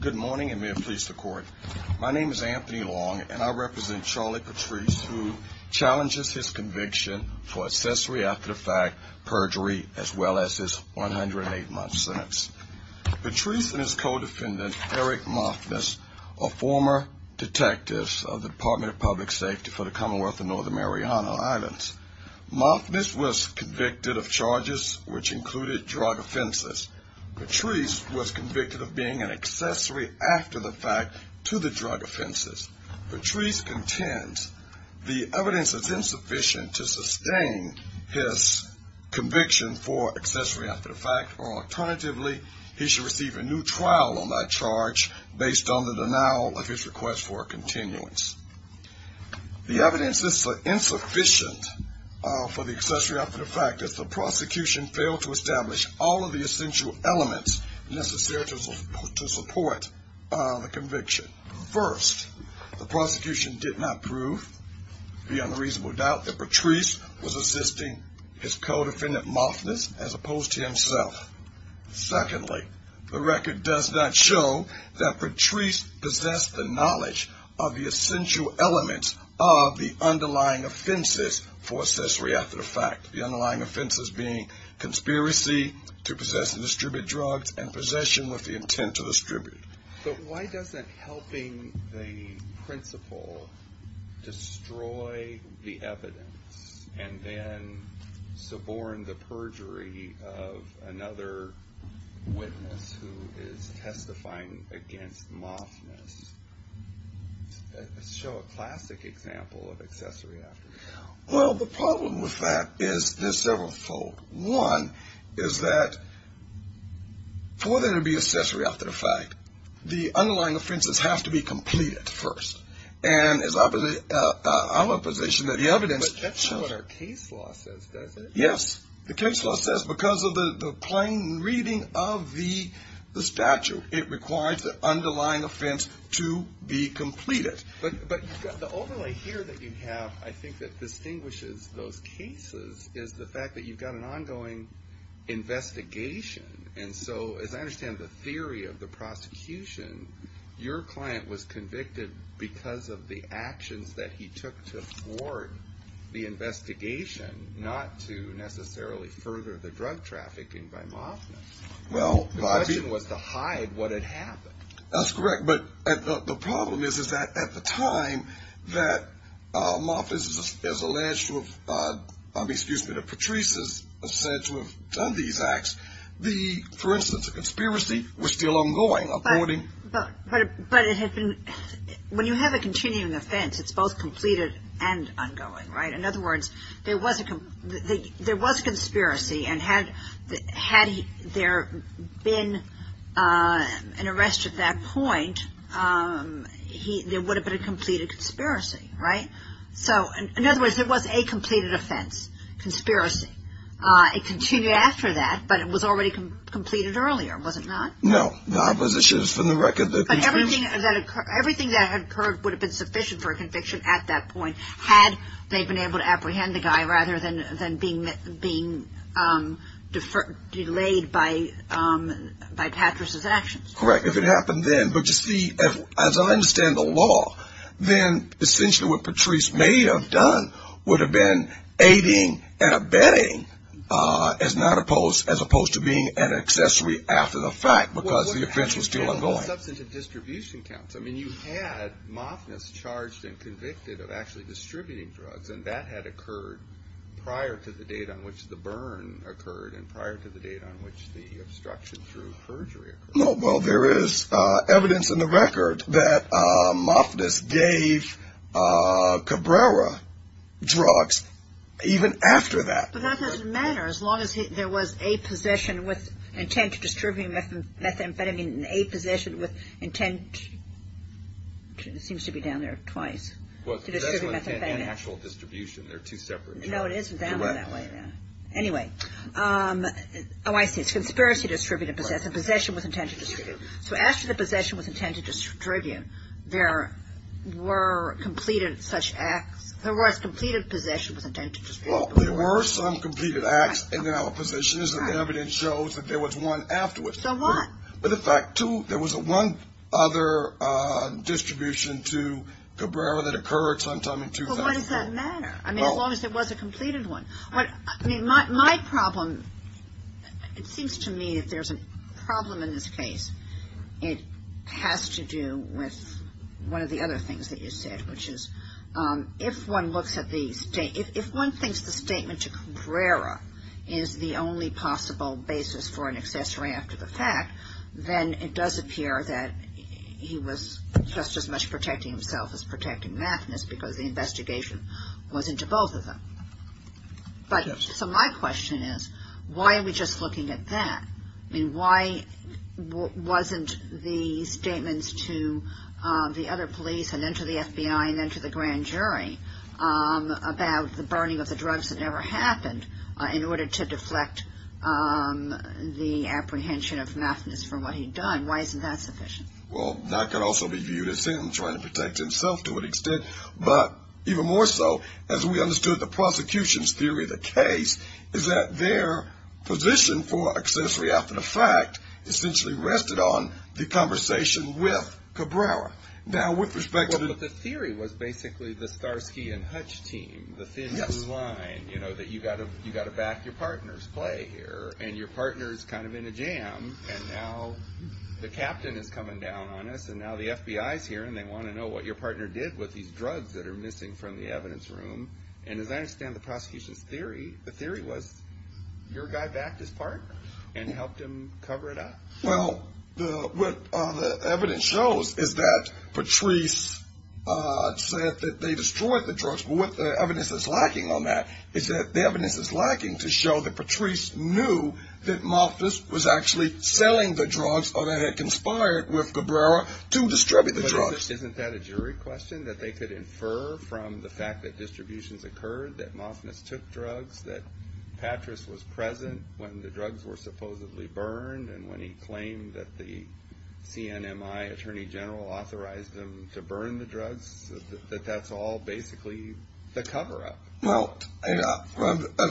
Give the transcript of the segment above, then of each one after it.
Good morning and may it please the court. My name is Anthony Long and I represent Charlie Patrice who challenges his conviction for accessory after the fact perjury as well as his 108 month sentence. Patrice and his co-defendant Eric Mothmas are former detectives of the Department of Public Safety for the Commonwealth of Northern Mariana Islands. Mothmas was convicted of charges which included drug offenses. Patrice was convicted of being an accessory after the fact to the drug offenses. Patrice contends the evidence is insufficient to sustain his conviction for accessory after the fact or alternatively he should receive a new trial on that charge based on the denial of his request for a continuance. The evidence is so insufficient for the accessory after the fact that the prosecution failed to establish all of the essential elements necessary to support the conviction. First, the prosecution did not prove beyond reasonable doubt that Patrice was assisting his co-defendant Mothmas as opposed to himself. Secondly, the record does not show that Patrice possessed the knowledge of the essential elements of the underlying offenses for accessory after the fact. The underlying offenses being conspiracy to possess and distribute drugs and possession with the intent to distribute. But why doesn't helping the principle destroy the evidence and then suborn the perjury of another witness who is testifying against Mothmas show a classic example of accessory after the fact? Well, the problem with that is several fold. One is that for there to be accessory after the fact, the underlying offenses have to be completed first and I'm of the position that the evidence... But that's not what our case law says, does it? Yes, the case law says because of the plain reading of the statute, it requires the underlying offense to be completed. But the overlay here that you have I think that distinguishes those cases is the fact that you've got an ongoing investigation and so as I understand the theory of the prosecution, your client was convicted because of the actions that he took to thwart the investigation, not to necessarily further the drug trafficking by Mothmas. The question was to hide what had happened. That's correct, but the problem is that at the time that Mothmas is alleged to have, excuse me, that Patrice is said to have done these acts, the for instance conspiracy was still ongoing. But it had been, when you have a continuing offense, it's both completed and ongoing, right? In other words, there was a conspiracy and had there been an arrest at that point, there would have been a completed conspiracy, right? So in other words, it was a completed offense, conspiracy. It continued after that, but it was already completed earlier, was it not? No, the opposition is from the record that... But everything that had occurred would have been sufficient for a conviction at that point had they been able to apprehend the guy rather than being delayed by Patrice's actions. Correct. If it happened then, but you see, as I understand the law, then essentially what Patrice may have done would have been aiding and abetting as opposed to being an accessory after the fact because the offense was still ongoing. Substantive distribution counts. I mean, you had Moffness charged and convicted of actually distributing drugs and that had occurred prior to the date on which the burn occurred and prior to the date on which the obstruction through perjury occurred. No, well, there is evidence in the record that Moffness gave Cabrera drugs even after that. But that doesn't matter as long as there was a position with intent. It seems to be down there twice. Well, that's an actual distribution. They're two separate. No, it isn't. Anyway. Oh, I see. It's conspiracy to distribute and possess. The possession was intended to distribute. So after the possession was intended to distribute, there were completed such acts. There was completed possession was intended to distribute. Well, there were some completed acts in the opposition and the evidence shows that there was one afterwards. But in fact, too, there was one other distribution to Cabrera that occurred sometime in 2004. But why does that matter? I mean, as long as it was a completed one. My problem, it seems to me if there's a problem in this case, it has to do with one of the other things that you said, which is if one looks at the state, if one thinks the statement to Cabrera is the only possible basis for an accessory after the fact, then it does appear that he was just as much protecting himself as protecting Mathis because the investigation was into both of them. But so my question is, why are we just looking at that? I mean, why wasn't the statements to the other police and then to the FBI and then to the grand jury about the burning of the drugs that never happened in order to deflect the apprehension of Mathis for what he'd done. Why isn't that sufficient? Well, that could also be viewed as him trying to protect himself to an extent, but even more so as we understood the prosecution's theory of the case is that their position for accessory after the fact essentially rested on the conversation with Cabrera. Now, with respect to the theory was basically the Starsky and Hutch team, the thin blue line, that you got to back your partner's play here and your partner's kind of in a jam and now the captain is coming down on us and now the FBI's here and they want to know what your partner did with these drugs that are missing from the evidence room. And as I understand the prosecution's theory, the theory was your guy backed his partner and helped him cover it up? Well, what the evidence shows is that Patrice said that they destroyed the drugs, but what the evidence is lacking on that is that the evidence is lacking to show that Patrice knew that Mathis was actually selling the drugs or that had conspired with Cabrera to distribute the drugs. Isn't that a jury question that they could infer from the fact that supposedly burned and when he claimed that the CNMI attorney general authorized him to burn the drugs, that that's all basically the cover-up? Well,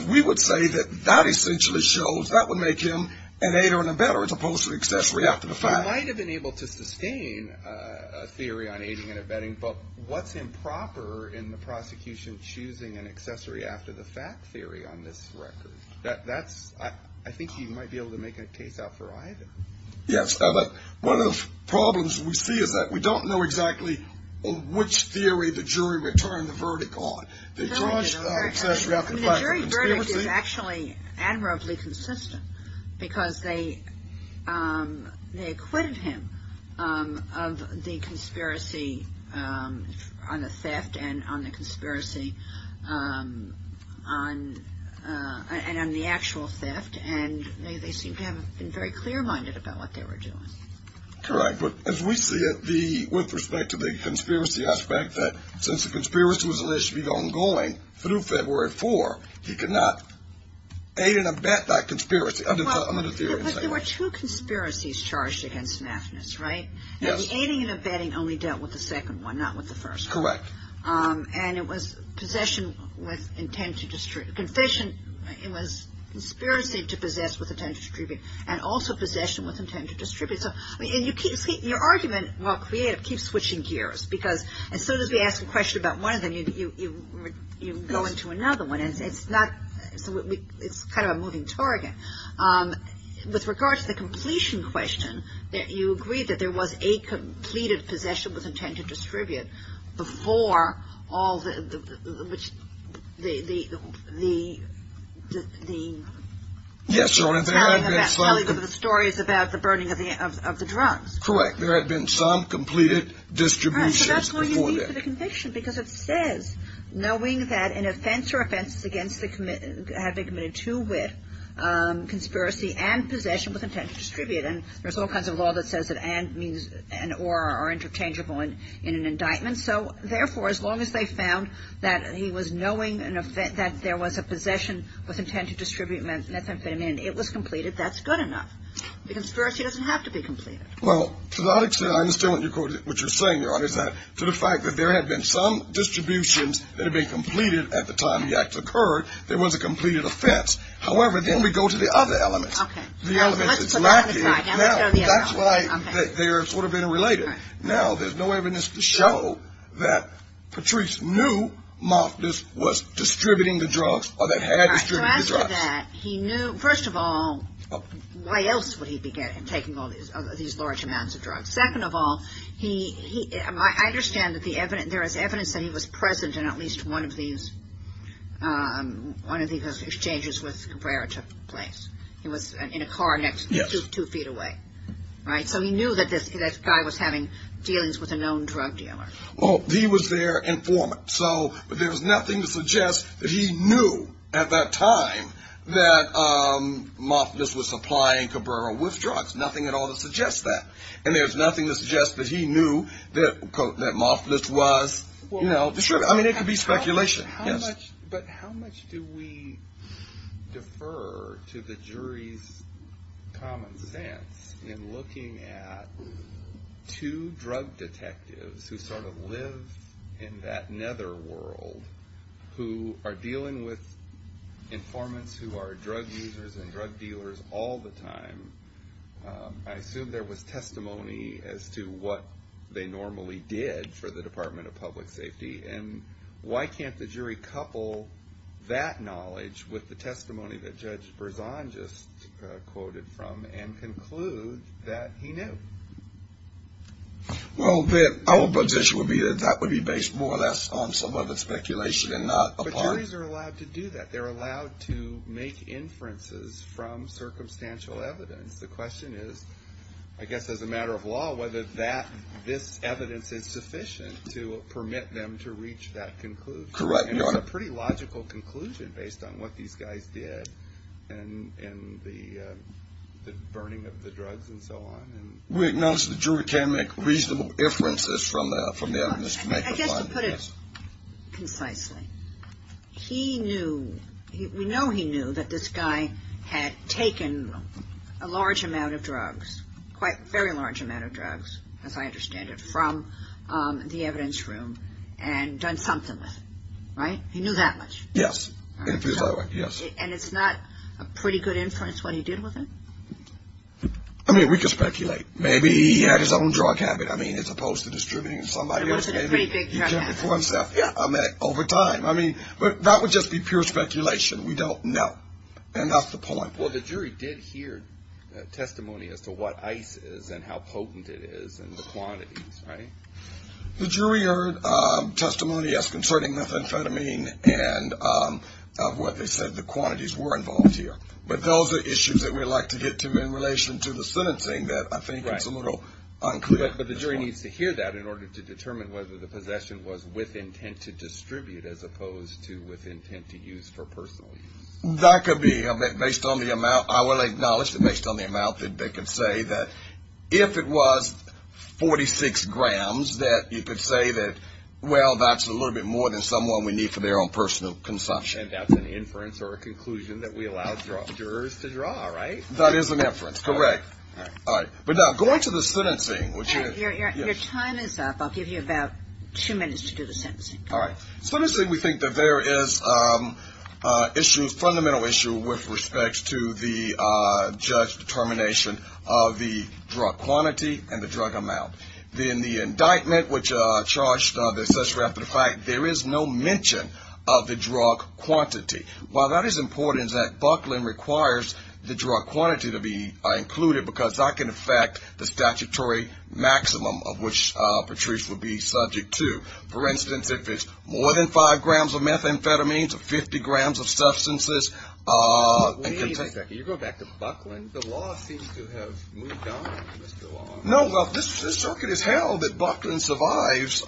we would say that that essentially shows that would make him an aider and abetter as opposed to accessory after the fact. He might have been able to sustain a theory on aiding and abetting, but what's improper in the prosecution choosing an accessory after the fact theory on this record? That's, I think he might be able to make a case out for either. Yes, but one of the problems we see is that we don't know exactly which theory the jury returned the verdict on. The jury verdict is actually admirably consistent because they acquitted him of the conspiracy on the theft and on the actual theft and they seem to have been very clear-minded about what they were doing. Correct, but as we see it with respect to the conspiracy aspect that since the conspiracy was initially ongoing through February 4, he could not aid and abet that theory. But there were two conspiracies charged against Maffinis, right? Yes. The aiding and abetting only dealt with the second one, not with the first one. Correct. And it was possession with intent to distribute, it was conspiracy to possess with intent to distribute and also possession with intent to distribute. So, I mean, you keep, your argument, while creative, keeps switching gears because as soon as we ask a question about one of them, you go into another one and it's not, it's kind of a moving target. With regard to the completion question, you agree that there was a completed possession with intent to distribute before all the, which the, the, the, the. Yes, Your Honor, there had been some. Telling the stories about the burning of the, of the drugs. Correct. There had been some completed distributions before that. Right, so that's what you need for conviction because it says, knowing that an offense or offense against the, had been committed to with conspiracy and possession with intent to distribute. And there's all kinds of law that says that and means, and or are interchangeable in an indictment. So, therefore, as long as they found that he was knowing an offense, that there was a possession with intent to distribute methamphetamine, it was completed, that's good enough. The conspiracy doesn't have to be completed. Well, to that extent, I understand what you're, what you're saying, Your Honor, is that to the fact that there had been some distributions that had been completed at the time the act occurred, there was a completed offense. However, then we go to the other element. Okay. The element that's lacking. Now, let's go to the other element. Now, that's why they're sort of interrelated. Now, there's no evidence to show that Patrice knew Mofftis was distributing the drugs or that had distributed the drugs. To answer that, he knew, first of all, why else would he be taking these large amounts of drugs? Second of all, he, I understand that the evidence, there is evidence that he was present in at least one of these, one of these exchanges with Cabrera took place. He was in a car next to, two feet away. Right? So, he knew that this guy was having dealings with a known drug dealer. Well, he was there informant. So, there's nothing to suggest that he knew at that time that Mofftis was supplying Cabrera with drugs. Nothing at all to suggest that. And there's nothing to suggest that he knew that, quote, that Mofftis was, you know, distributing. I mean, it could be speculation. Yes. But how much do we defer to the jury's common sense in looking at two drug detectives who sort of live in that netherworld who are dealing with informants who are drug users and drug dealers all the time? I assume there was testimony as to what they normally did for the Department of Public Safety. And why can't the jury couple that knowledge with the testimony that Judge Berzon just quoted from and conclude that he knew? Well, our position would be that that would be based more on some of the speculation and not a part. But juries are allowed to do that. They're allowed to make inferences from circumstantial evidence. The question is, I guess as a matter of law, whether that, this evidence is sufficient to permit them to reach that conclusion. Correct, Your Honor. And it's a pretty logical conclusion based on what these guys did in the burning of the drugs and so on. We acknowledge the jury can make reasonable inferences from the evidence. I guess to put it concisely, we know he knew that this guy had taken a large amount of drugs, quite a very large amount of drugs, as I understand it, from the evidence room and done something with it. Right? He knew that much? Yes. And it's not a pretty good inference what he did with it? I mean, we could speculate. Maybe he had his own drug habit. I mean, as opposed to distributing somebody else's. He kept it for himself. Yeah, I mean, over time. I mean, that would just be pure speculation. We don't know. And that's the point. Well, the jury did hear testimony as to what ice is and how potent it is and the quantities, right? The jury heard testimony, yes, concerning methamphetamine and what they said the quantities were involved here. But those are issues that we like to get to in relation to the sentencing that I think it's a little unclear. But the jury needs to hear that in order to determine whether the possession was with intent to distribute as opposed to with intent to use for personal use. That could be based on the amount. I will acknowledge that based on the amount that they could say that if it was 46 grams that you could say that, well, that's a little bit more than someone we need for their own personal consumption. And that's an to draw, right? That is an inference. Correct. All right. But now going to the sentencing, which your time is up, I'll give you about two minutes to do the sentencing. All right. So let me say we think that there is issues, fundamental issue with respect to the judge determination of the drug quantity and the drug amount. Then the indictment, which charged the assessor after fact, there is no mention of the drug quantity. While that is important is that Bucklin requires the drug quantity to be included because I can affect the statutory maximum of which Patrice would be subject to. For instance, if it's more than five grams of methamphetamines, 50 grams of substances. Can you go back to Bucklin? The law seems to have moved on. No, well, this circuit is held that Bucklin survives.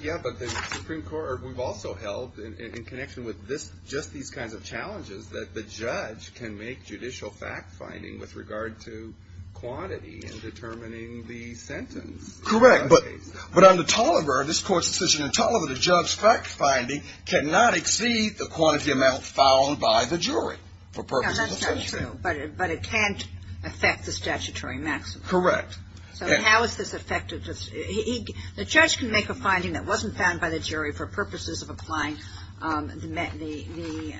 Yeah, but the Supreme Court, we've also held in connection with this, just these kinds of challenges that the judge can make judicial fact finding with regard to quantity and determining the sentence. Correct. But under Tolliver, this court's decision in Tolliver, the judge's fact finding cannot exceed the quantity amount found by the jury for purposes of sentencing. That's not true, but it can't affect the statutory maximum. Correct. So how is this effective? The judge can make a finding that wasn't found by the jury for purposes of applying the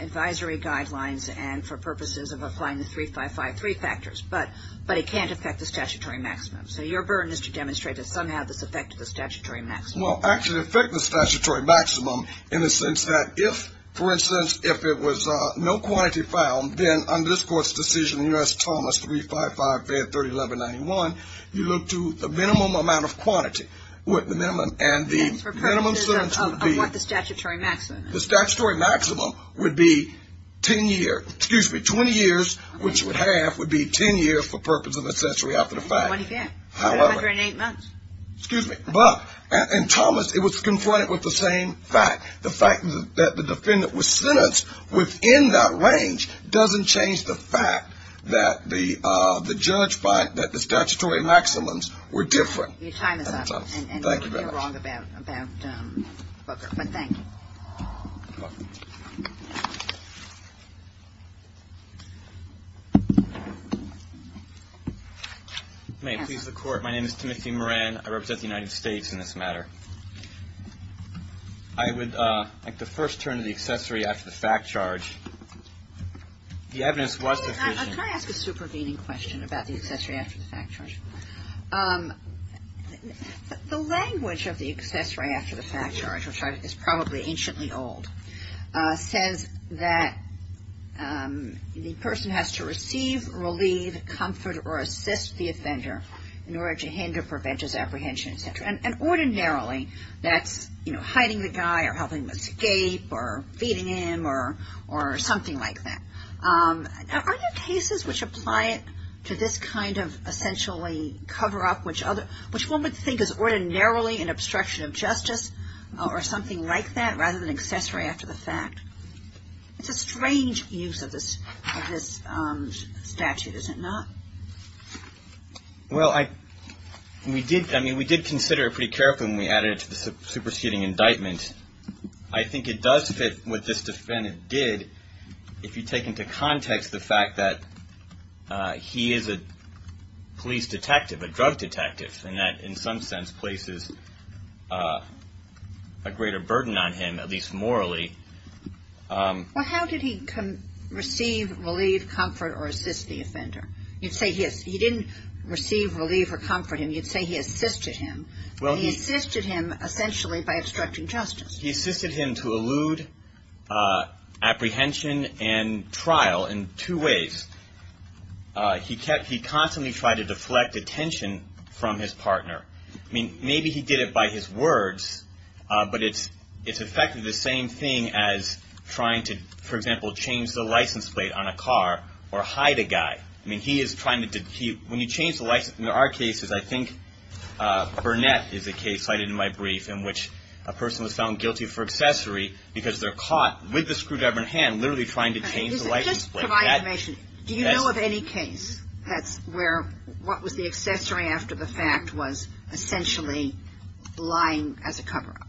advisory guidelines and for purposes of applying the 3553 factors, but it can't affect the statutory maximum. So your burden is to demonstrate that somehow this affected the statutory maximum. Well, actually affect the statutory maximum in the sense that if, for instance, if it was no quantity found, then under this court's decision, U.S. Thomas 355 fed 31191, you look to the minimum amount of quantity with the minimum and the minimum sentence would be... For purposes of what the statutory maximum is. The statutory maximum would be 10 years, excuse me, 20 years, which would have, would be 10 years for purposes of a century after the fact. What do you get? 108 months. Excuse me, but in Thomas, it was confronted with the same fact. The fact that the defendant was sentenced within that range doesn't change the fact that the, uh, the judge by, that the statutory maximums were different. Your time is up. Thank you very much. And you're wrong about, about, um, Booker. But thank you. May it please the court. My name is Timothy Moran. I represent the United States in this matter. I would, uh, like to first turn to the accessory after the fact charge. The evidence was sufficient... Can I ask a supervening question about the accessory after the fact charge? Um, the language of the accessory after the fact charge, which is probably anciently old, uh, says that, um, the person has to receive, relieve, comfort, or assist the offender in order to hinder preventive apprehension, et cetera. And ordinarily, that's, you know, hiding the guy or helping him escape or feeding him or, or something like that. Um, are there cases which apply it to this kind of essentially cover up which other, which one would think is ordinarily an obstruction of justice or something like that rather than accessory after the fact? It's a strange use of this, of this, um, statute, is it not? Well, I, we did, I mean, we did consider it pretty carefully when we added it to the superseding indictment. I think it does fit what this defendant did if you take into context the fact that, uh, he is a police detective, a drug detective, and that in some sense places, uh, a greater obligation to relieve, comfort, or assist the offender. You'd say he, he didn't receive, relieve, or comfort him. You'd say he assisted him. Well, he. He assisted him essentially by obstructing justice. He assisted him to elude, uh, apprehension and trial in two ways. Uh, he kept, he constantly tried to deflect attention from his partner. I mean, maybe he did it by his words, uh, but it's, it's effectively the same thing as trying to, for example, change the license plate on a car or hide a guy. I mean, he is trying to, he, when you change the license, I mean, there are cases, I think, uh, Burnett is a case cited in my brief in which a person was found guilty for accessory because they're caught with the screwdriver in hand literally trying to change the license plate. Just for my information, do you know of any case that's where, what was the accessory after the fact was essentially lying as a cover-up?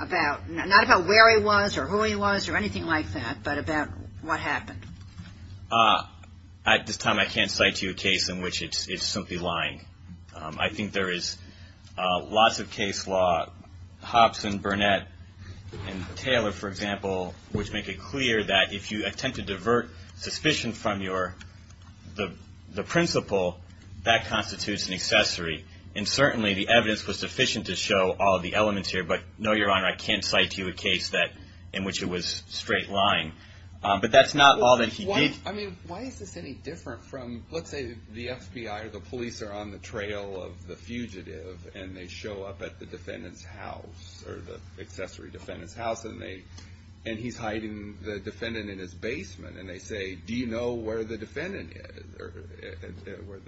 About, not about where he was or who he was or anything like that, but about what happened. Uh, at this time, I can't cite you a case in which it's, it's simply lying. Um, I think there is, uh, lots of case law, Hopson, Burnett, and Taylor, for example, which make it clear that if you attempt to divert suspicion from your, the, the principle, that constitutes an accessory. And certainly the evidence was sufficient to show all the elements here, but no, Your Honor, I can't cite you a case that, in which it was straight lying. Um, but that's not all that he did. I mean, why is this any different from, let's say the FBI or the police are on the trail of the fugitive and they show up at the defendant's house or the accessory defendant's house and they, and he's hiding the defendant in his basement and they say, do you know where the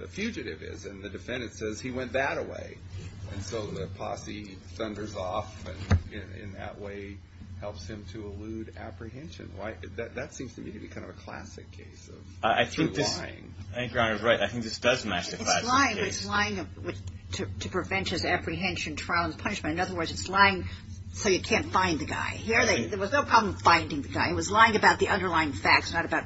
fugitive is? And the defendant says, he went that-a-way. And so the posse thunders off and in, in that way helps him to elude apprehension. Why, that, that seems to me to be kind of a classic case of true lying. I think this, I think Your Honor is right. I think this does match the classic case. It's lying, but it's lying to, to prevent his apprehension, trial, and punishment. In other words, it's lying so you can't find the guy. Here they, there was no problem finding the guy. It was lying about the underlying facts, not about,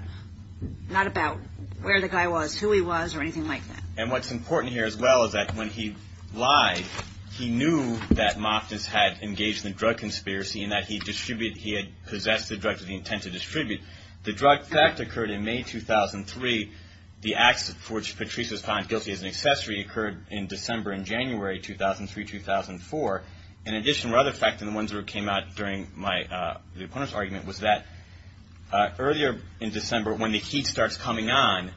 not about where the guy was, who he was or anything like that. And what's important here as well is that when he lied, he knew that Moftis had engaged in a drug conspiracy and that he distributed, he had possessed the drugs with the intent to distribute. The drug fact occurred in May 2003. The acts for which Patrice was found guilty as an accessory occurred in December and January 2003-2004. In addition, rather fact than the ones that came out during my, the opponent's earlier in December when the heat starts coming on,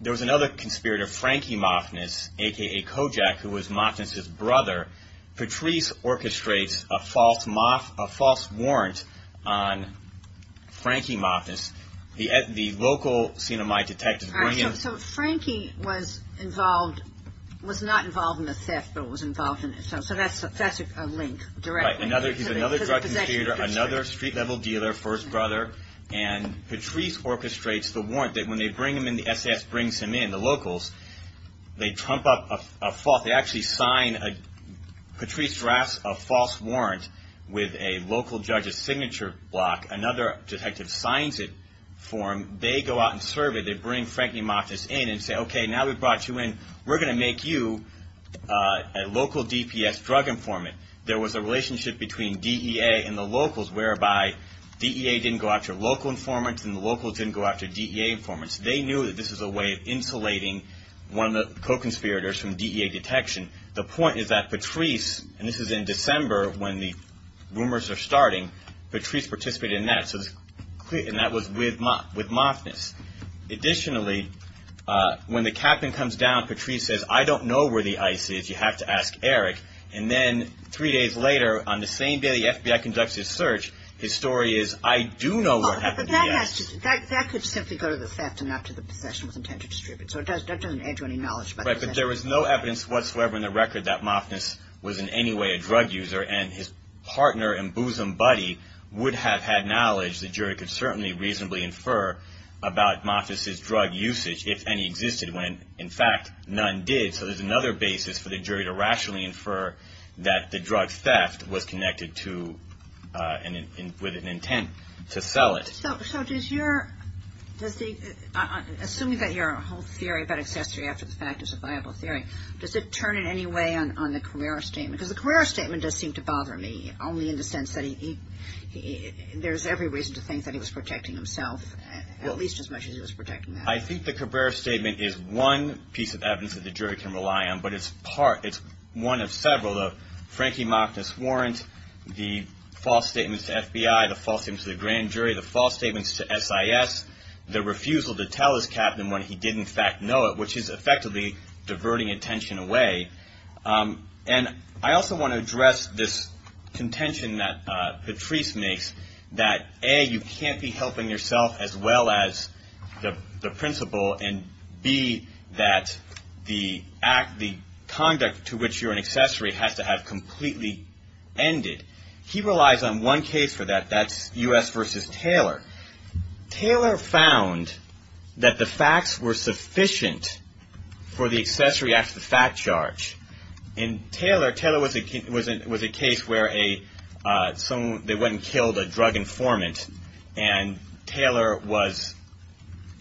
there was another conspirator, Frankie Moftis, a.k.a. Kojak, who was Moftis' brother. Patrice orchestrates a false, a false warrant on Frankie Moftis. The, the local C&MI detectives bring him. All right. So, so Frankie was involved, was not involved in the theft, but was involved in it. So, so that's, that's a link directly. Right. Another, he's another drug conspirator, another street-level dealer, first brother. And Patrice orchestrates the warrant that when they bring him in, the S.S. brings him in, the locals, they trump up a false, they actually sign a, Patrice drafts a false warrant with a local judge's signature block. Another detective signs it for him. They go out and survey. They bring Frankie Moftis in and say, okay, now we've brought you in. We're going to make you a local DPS drug informant. There was a relationship between DEA and the locals whereby DEA didn't go after local informants and the locals didn't go after DEA informants. They knew that this was a way of insulating one of the co-conspirators from DEA detection. The point is that Patrice, and this is in December when the rumors are starting, Patrice participated in that. So, and that was with, with the S.S. And then Patrice says, I don't know where the IC is. You have to ask Eric. And then three days later, on the same day the FBI conducts his search, his story is, I do know what happened to the S.S. But that has to, that could simply go to the theft and not to the possession with intent to distribute. So, it doesn't add to any knowledge about the possession. Right. But there was no evidence whatsoever in the record that Moftis was in any way a drug user. And his partner and bosom buddy would have had certainly reasonably infer about Moftis' drug usage, if any existed, when in fact, none did. So, there's another basis for the jury to rationally infer that the drug theft was connected to, with an intent to sell it. So, so does your, does the, assuming that your whole theory about accessory after the fact is a viable theory, does it turn in any way on, on the Carrera statement? Because the Carrera statement does seem to bother me, only in the sense that he, there's every reason to think that he was protecting himself, at least as much as he was protecting that. I think the Carrera statement is one piece of evidence that the jury can rely on, but it's part, it's one of several. The Frankie Moftis warrant, the false statements to FBI, the false statements to the grand jury, the false statements to S.I.S., the refusal to tell his captain when he did in fact know it, which is effectively diverting attention away. And I also want to address this contention that Patrice makes, that A, you can't be helping yourself as well as the, the principal, and B, that the act, the conduct to which you're an accessory has to have completely ended. He relies on one case for that, that's U.S. v. Taylor. Taylor found that the facts were sufficient for the accessory after the fact charge. And Taylor, Taylor was a, was a, was a case where a, someone, they went and killed a drug informant, and Taylor was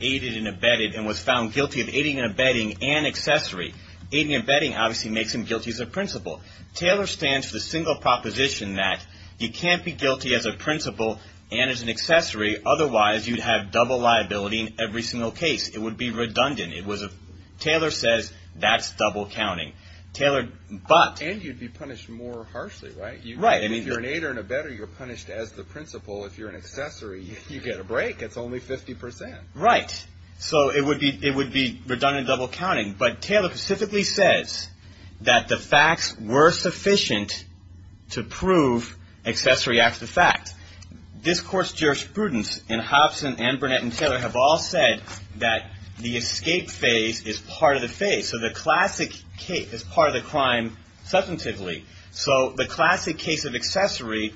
aided and abetted and was found guilty of aiding and abetting an accessory. Aiding and abetting obviously makes him guilty as a principal. Taylor stands for the single proposition that you can't be guilty as a principal and as an accessory, otherwise you'd have double liability in every single case. It would be redundant. It was a, Taylor says that's double counting. Taylor, but. And you'd be punished more harshly, right? Right. If you're an aider and abetter, you're punished as the principal. If you're an accessory, you get a break. It's only 50 percent. Right. So it would be, it would be redundant double counting. But Taylor specifically says that the facts were sufficient to prove accessory after the fact. This court's jurisprudence in Hobson and Burnett and Taylor have all said that the escape phase is part of the phase. So the classic case is part of the crime substantively. So the classic case of accessory,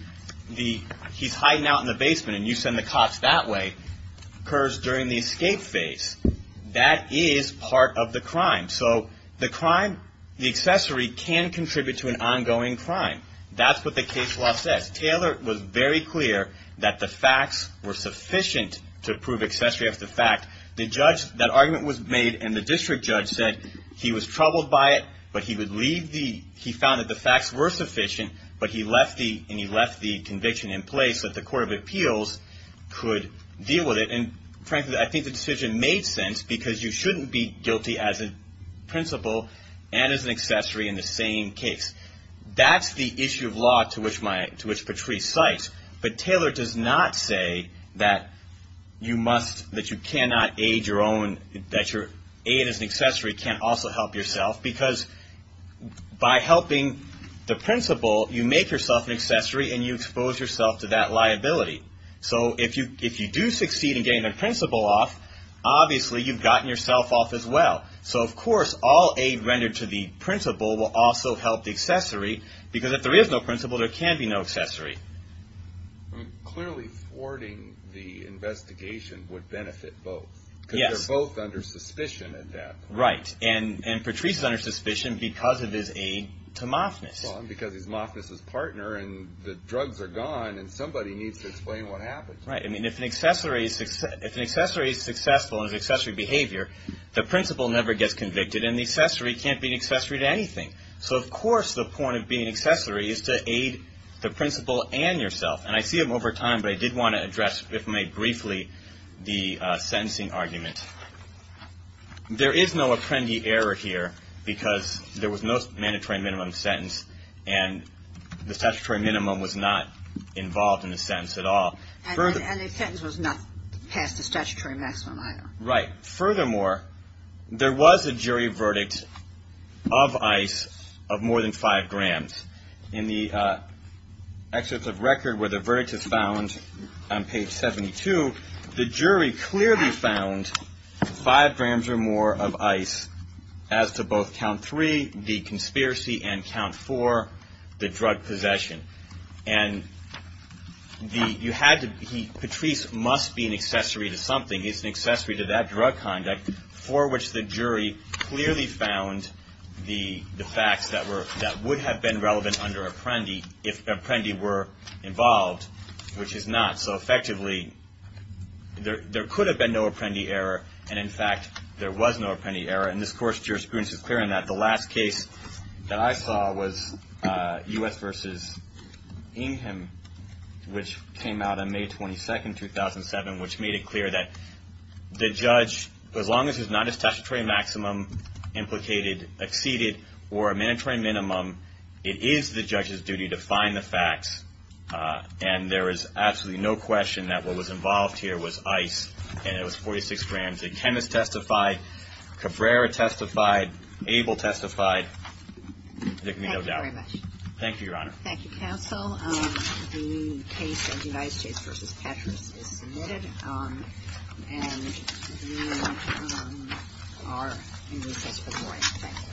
the, he's hiding out in the basement and you send the cops that way, occurs during the escape phase. That is part of the crime. So the crime, the accessory can contribute to an ongoing crime. That's what the case law says. Taylor was very clear that the facts were sufficient to prove accessory after the fact. The judge, that argument was made and the district judge said he was troubled by it, but he would leave the, he found that the facts were sufficient, but he left the, and he left the district judge to deal with it. And frankly, I think the decision made sense because you shouldn't be guilty as a principal and as an accessory in the same case. That's the issue of law to which my, to which Patrice cites. But Taylor does not say that you must, that you cannot aid your own, that your aid as an accessory can't also help yourself because by helping the principal, you make yourself an accessory and you expose yourself to that and if you succeed in getting the principal off, obviously you've gotten yourself off as well. So of course, all aid rendered to the principal will also help the accessory because if there is no principal, there can be no accessory. Clearly thwarting the investigation would benefit both. Yes. Because they're both under suspicion at that point. Right. And Patrice is under suspicion because of his aid to Moffness. Because he's Moffness's partner and the drugs are gone and somebody needs to explain what happened. Right. I mean, if an accessory is successful in his accessory behavior, the principal never gets convicted and the accessory can't be an accessory to anything. So of course, the point of being an accessory is to aid the principal and yourself. And I see him over time, but I did want to address, if may, briefly the sentencing argument. There is no apprendee error here because there was no mandatory minimum sentence and the statutory minimum was not passed the statutory maximum. Right. Furthermore, there was a jury verdict of ICE of more than five grams. In the excerpts of record where the verdict is found on page 72, the jury clearly found five grams or more of ICE as to both count three, the conspiracy, and count four, the drug possession. And you had to, Patrice must be an accessory to something. He's an accessory to that drug conduct for which the jury clearly found the facts that would have been relevant under apprendee if apprendee were involved, which is not. So effectively, there could have been no apprendee error. And in fact, there was no apprendee error. And this court's jurisprudence is clear in that the last case that I saw was U.S. v. Ingham, which came out on May 22, 2007, which made it clear that the judge, as long as he's not a statutory maximum implicated, exceeded, or a mandatory minimum, it is the testified, Cabrera testified, Abel testified, there can be no doubt. Thank you, Your Honor. Thank you, counsel. The case of United States v. Patrice is submitted. And you are in recess for the morning. Thank you.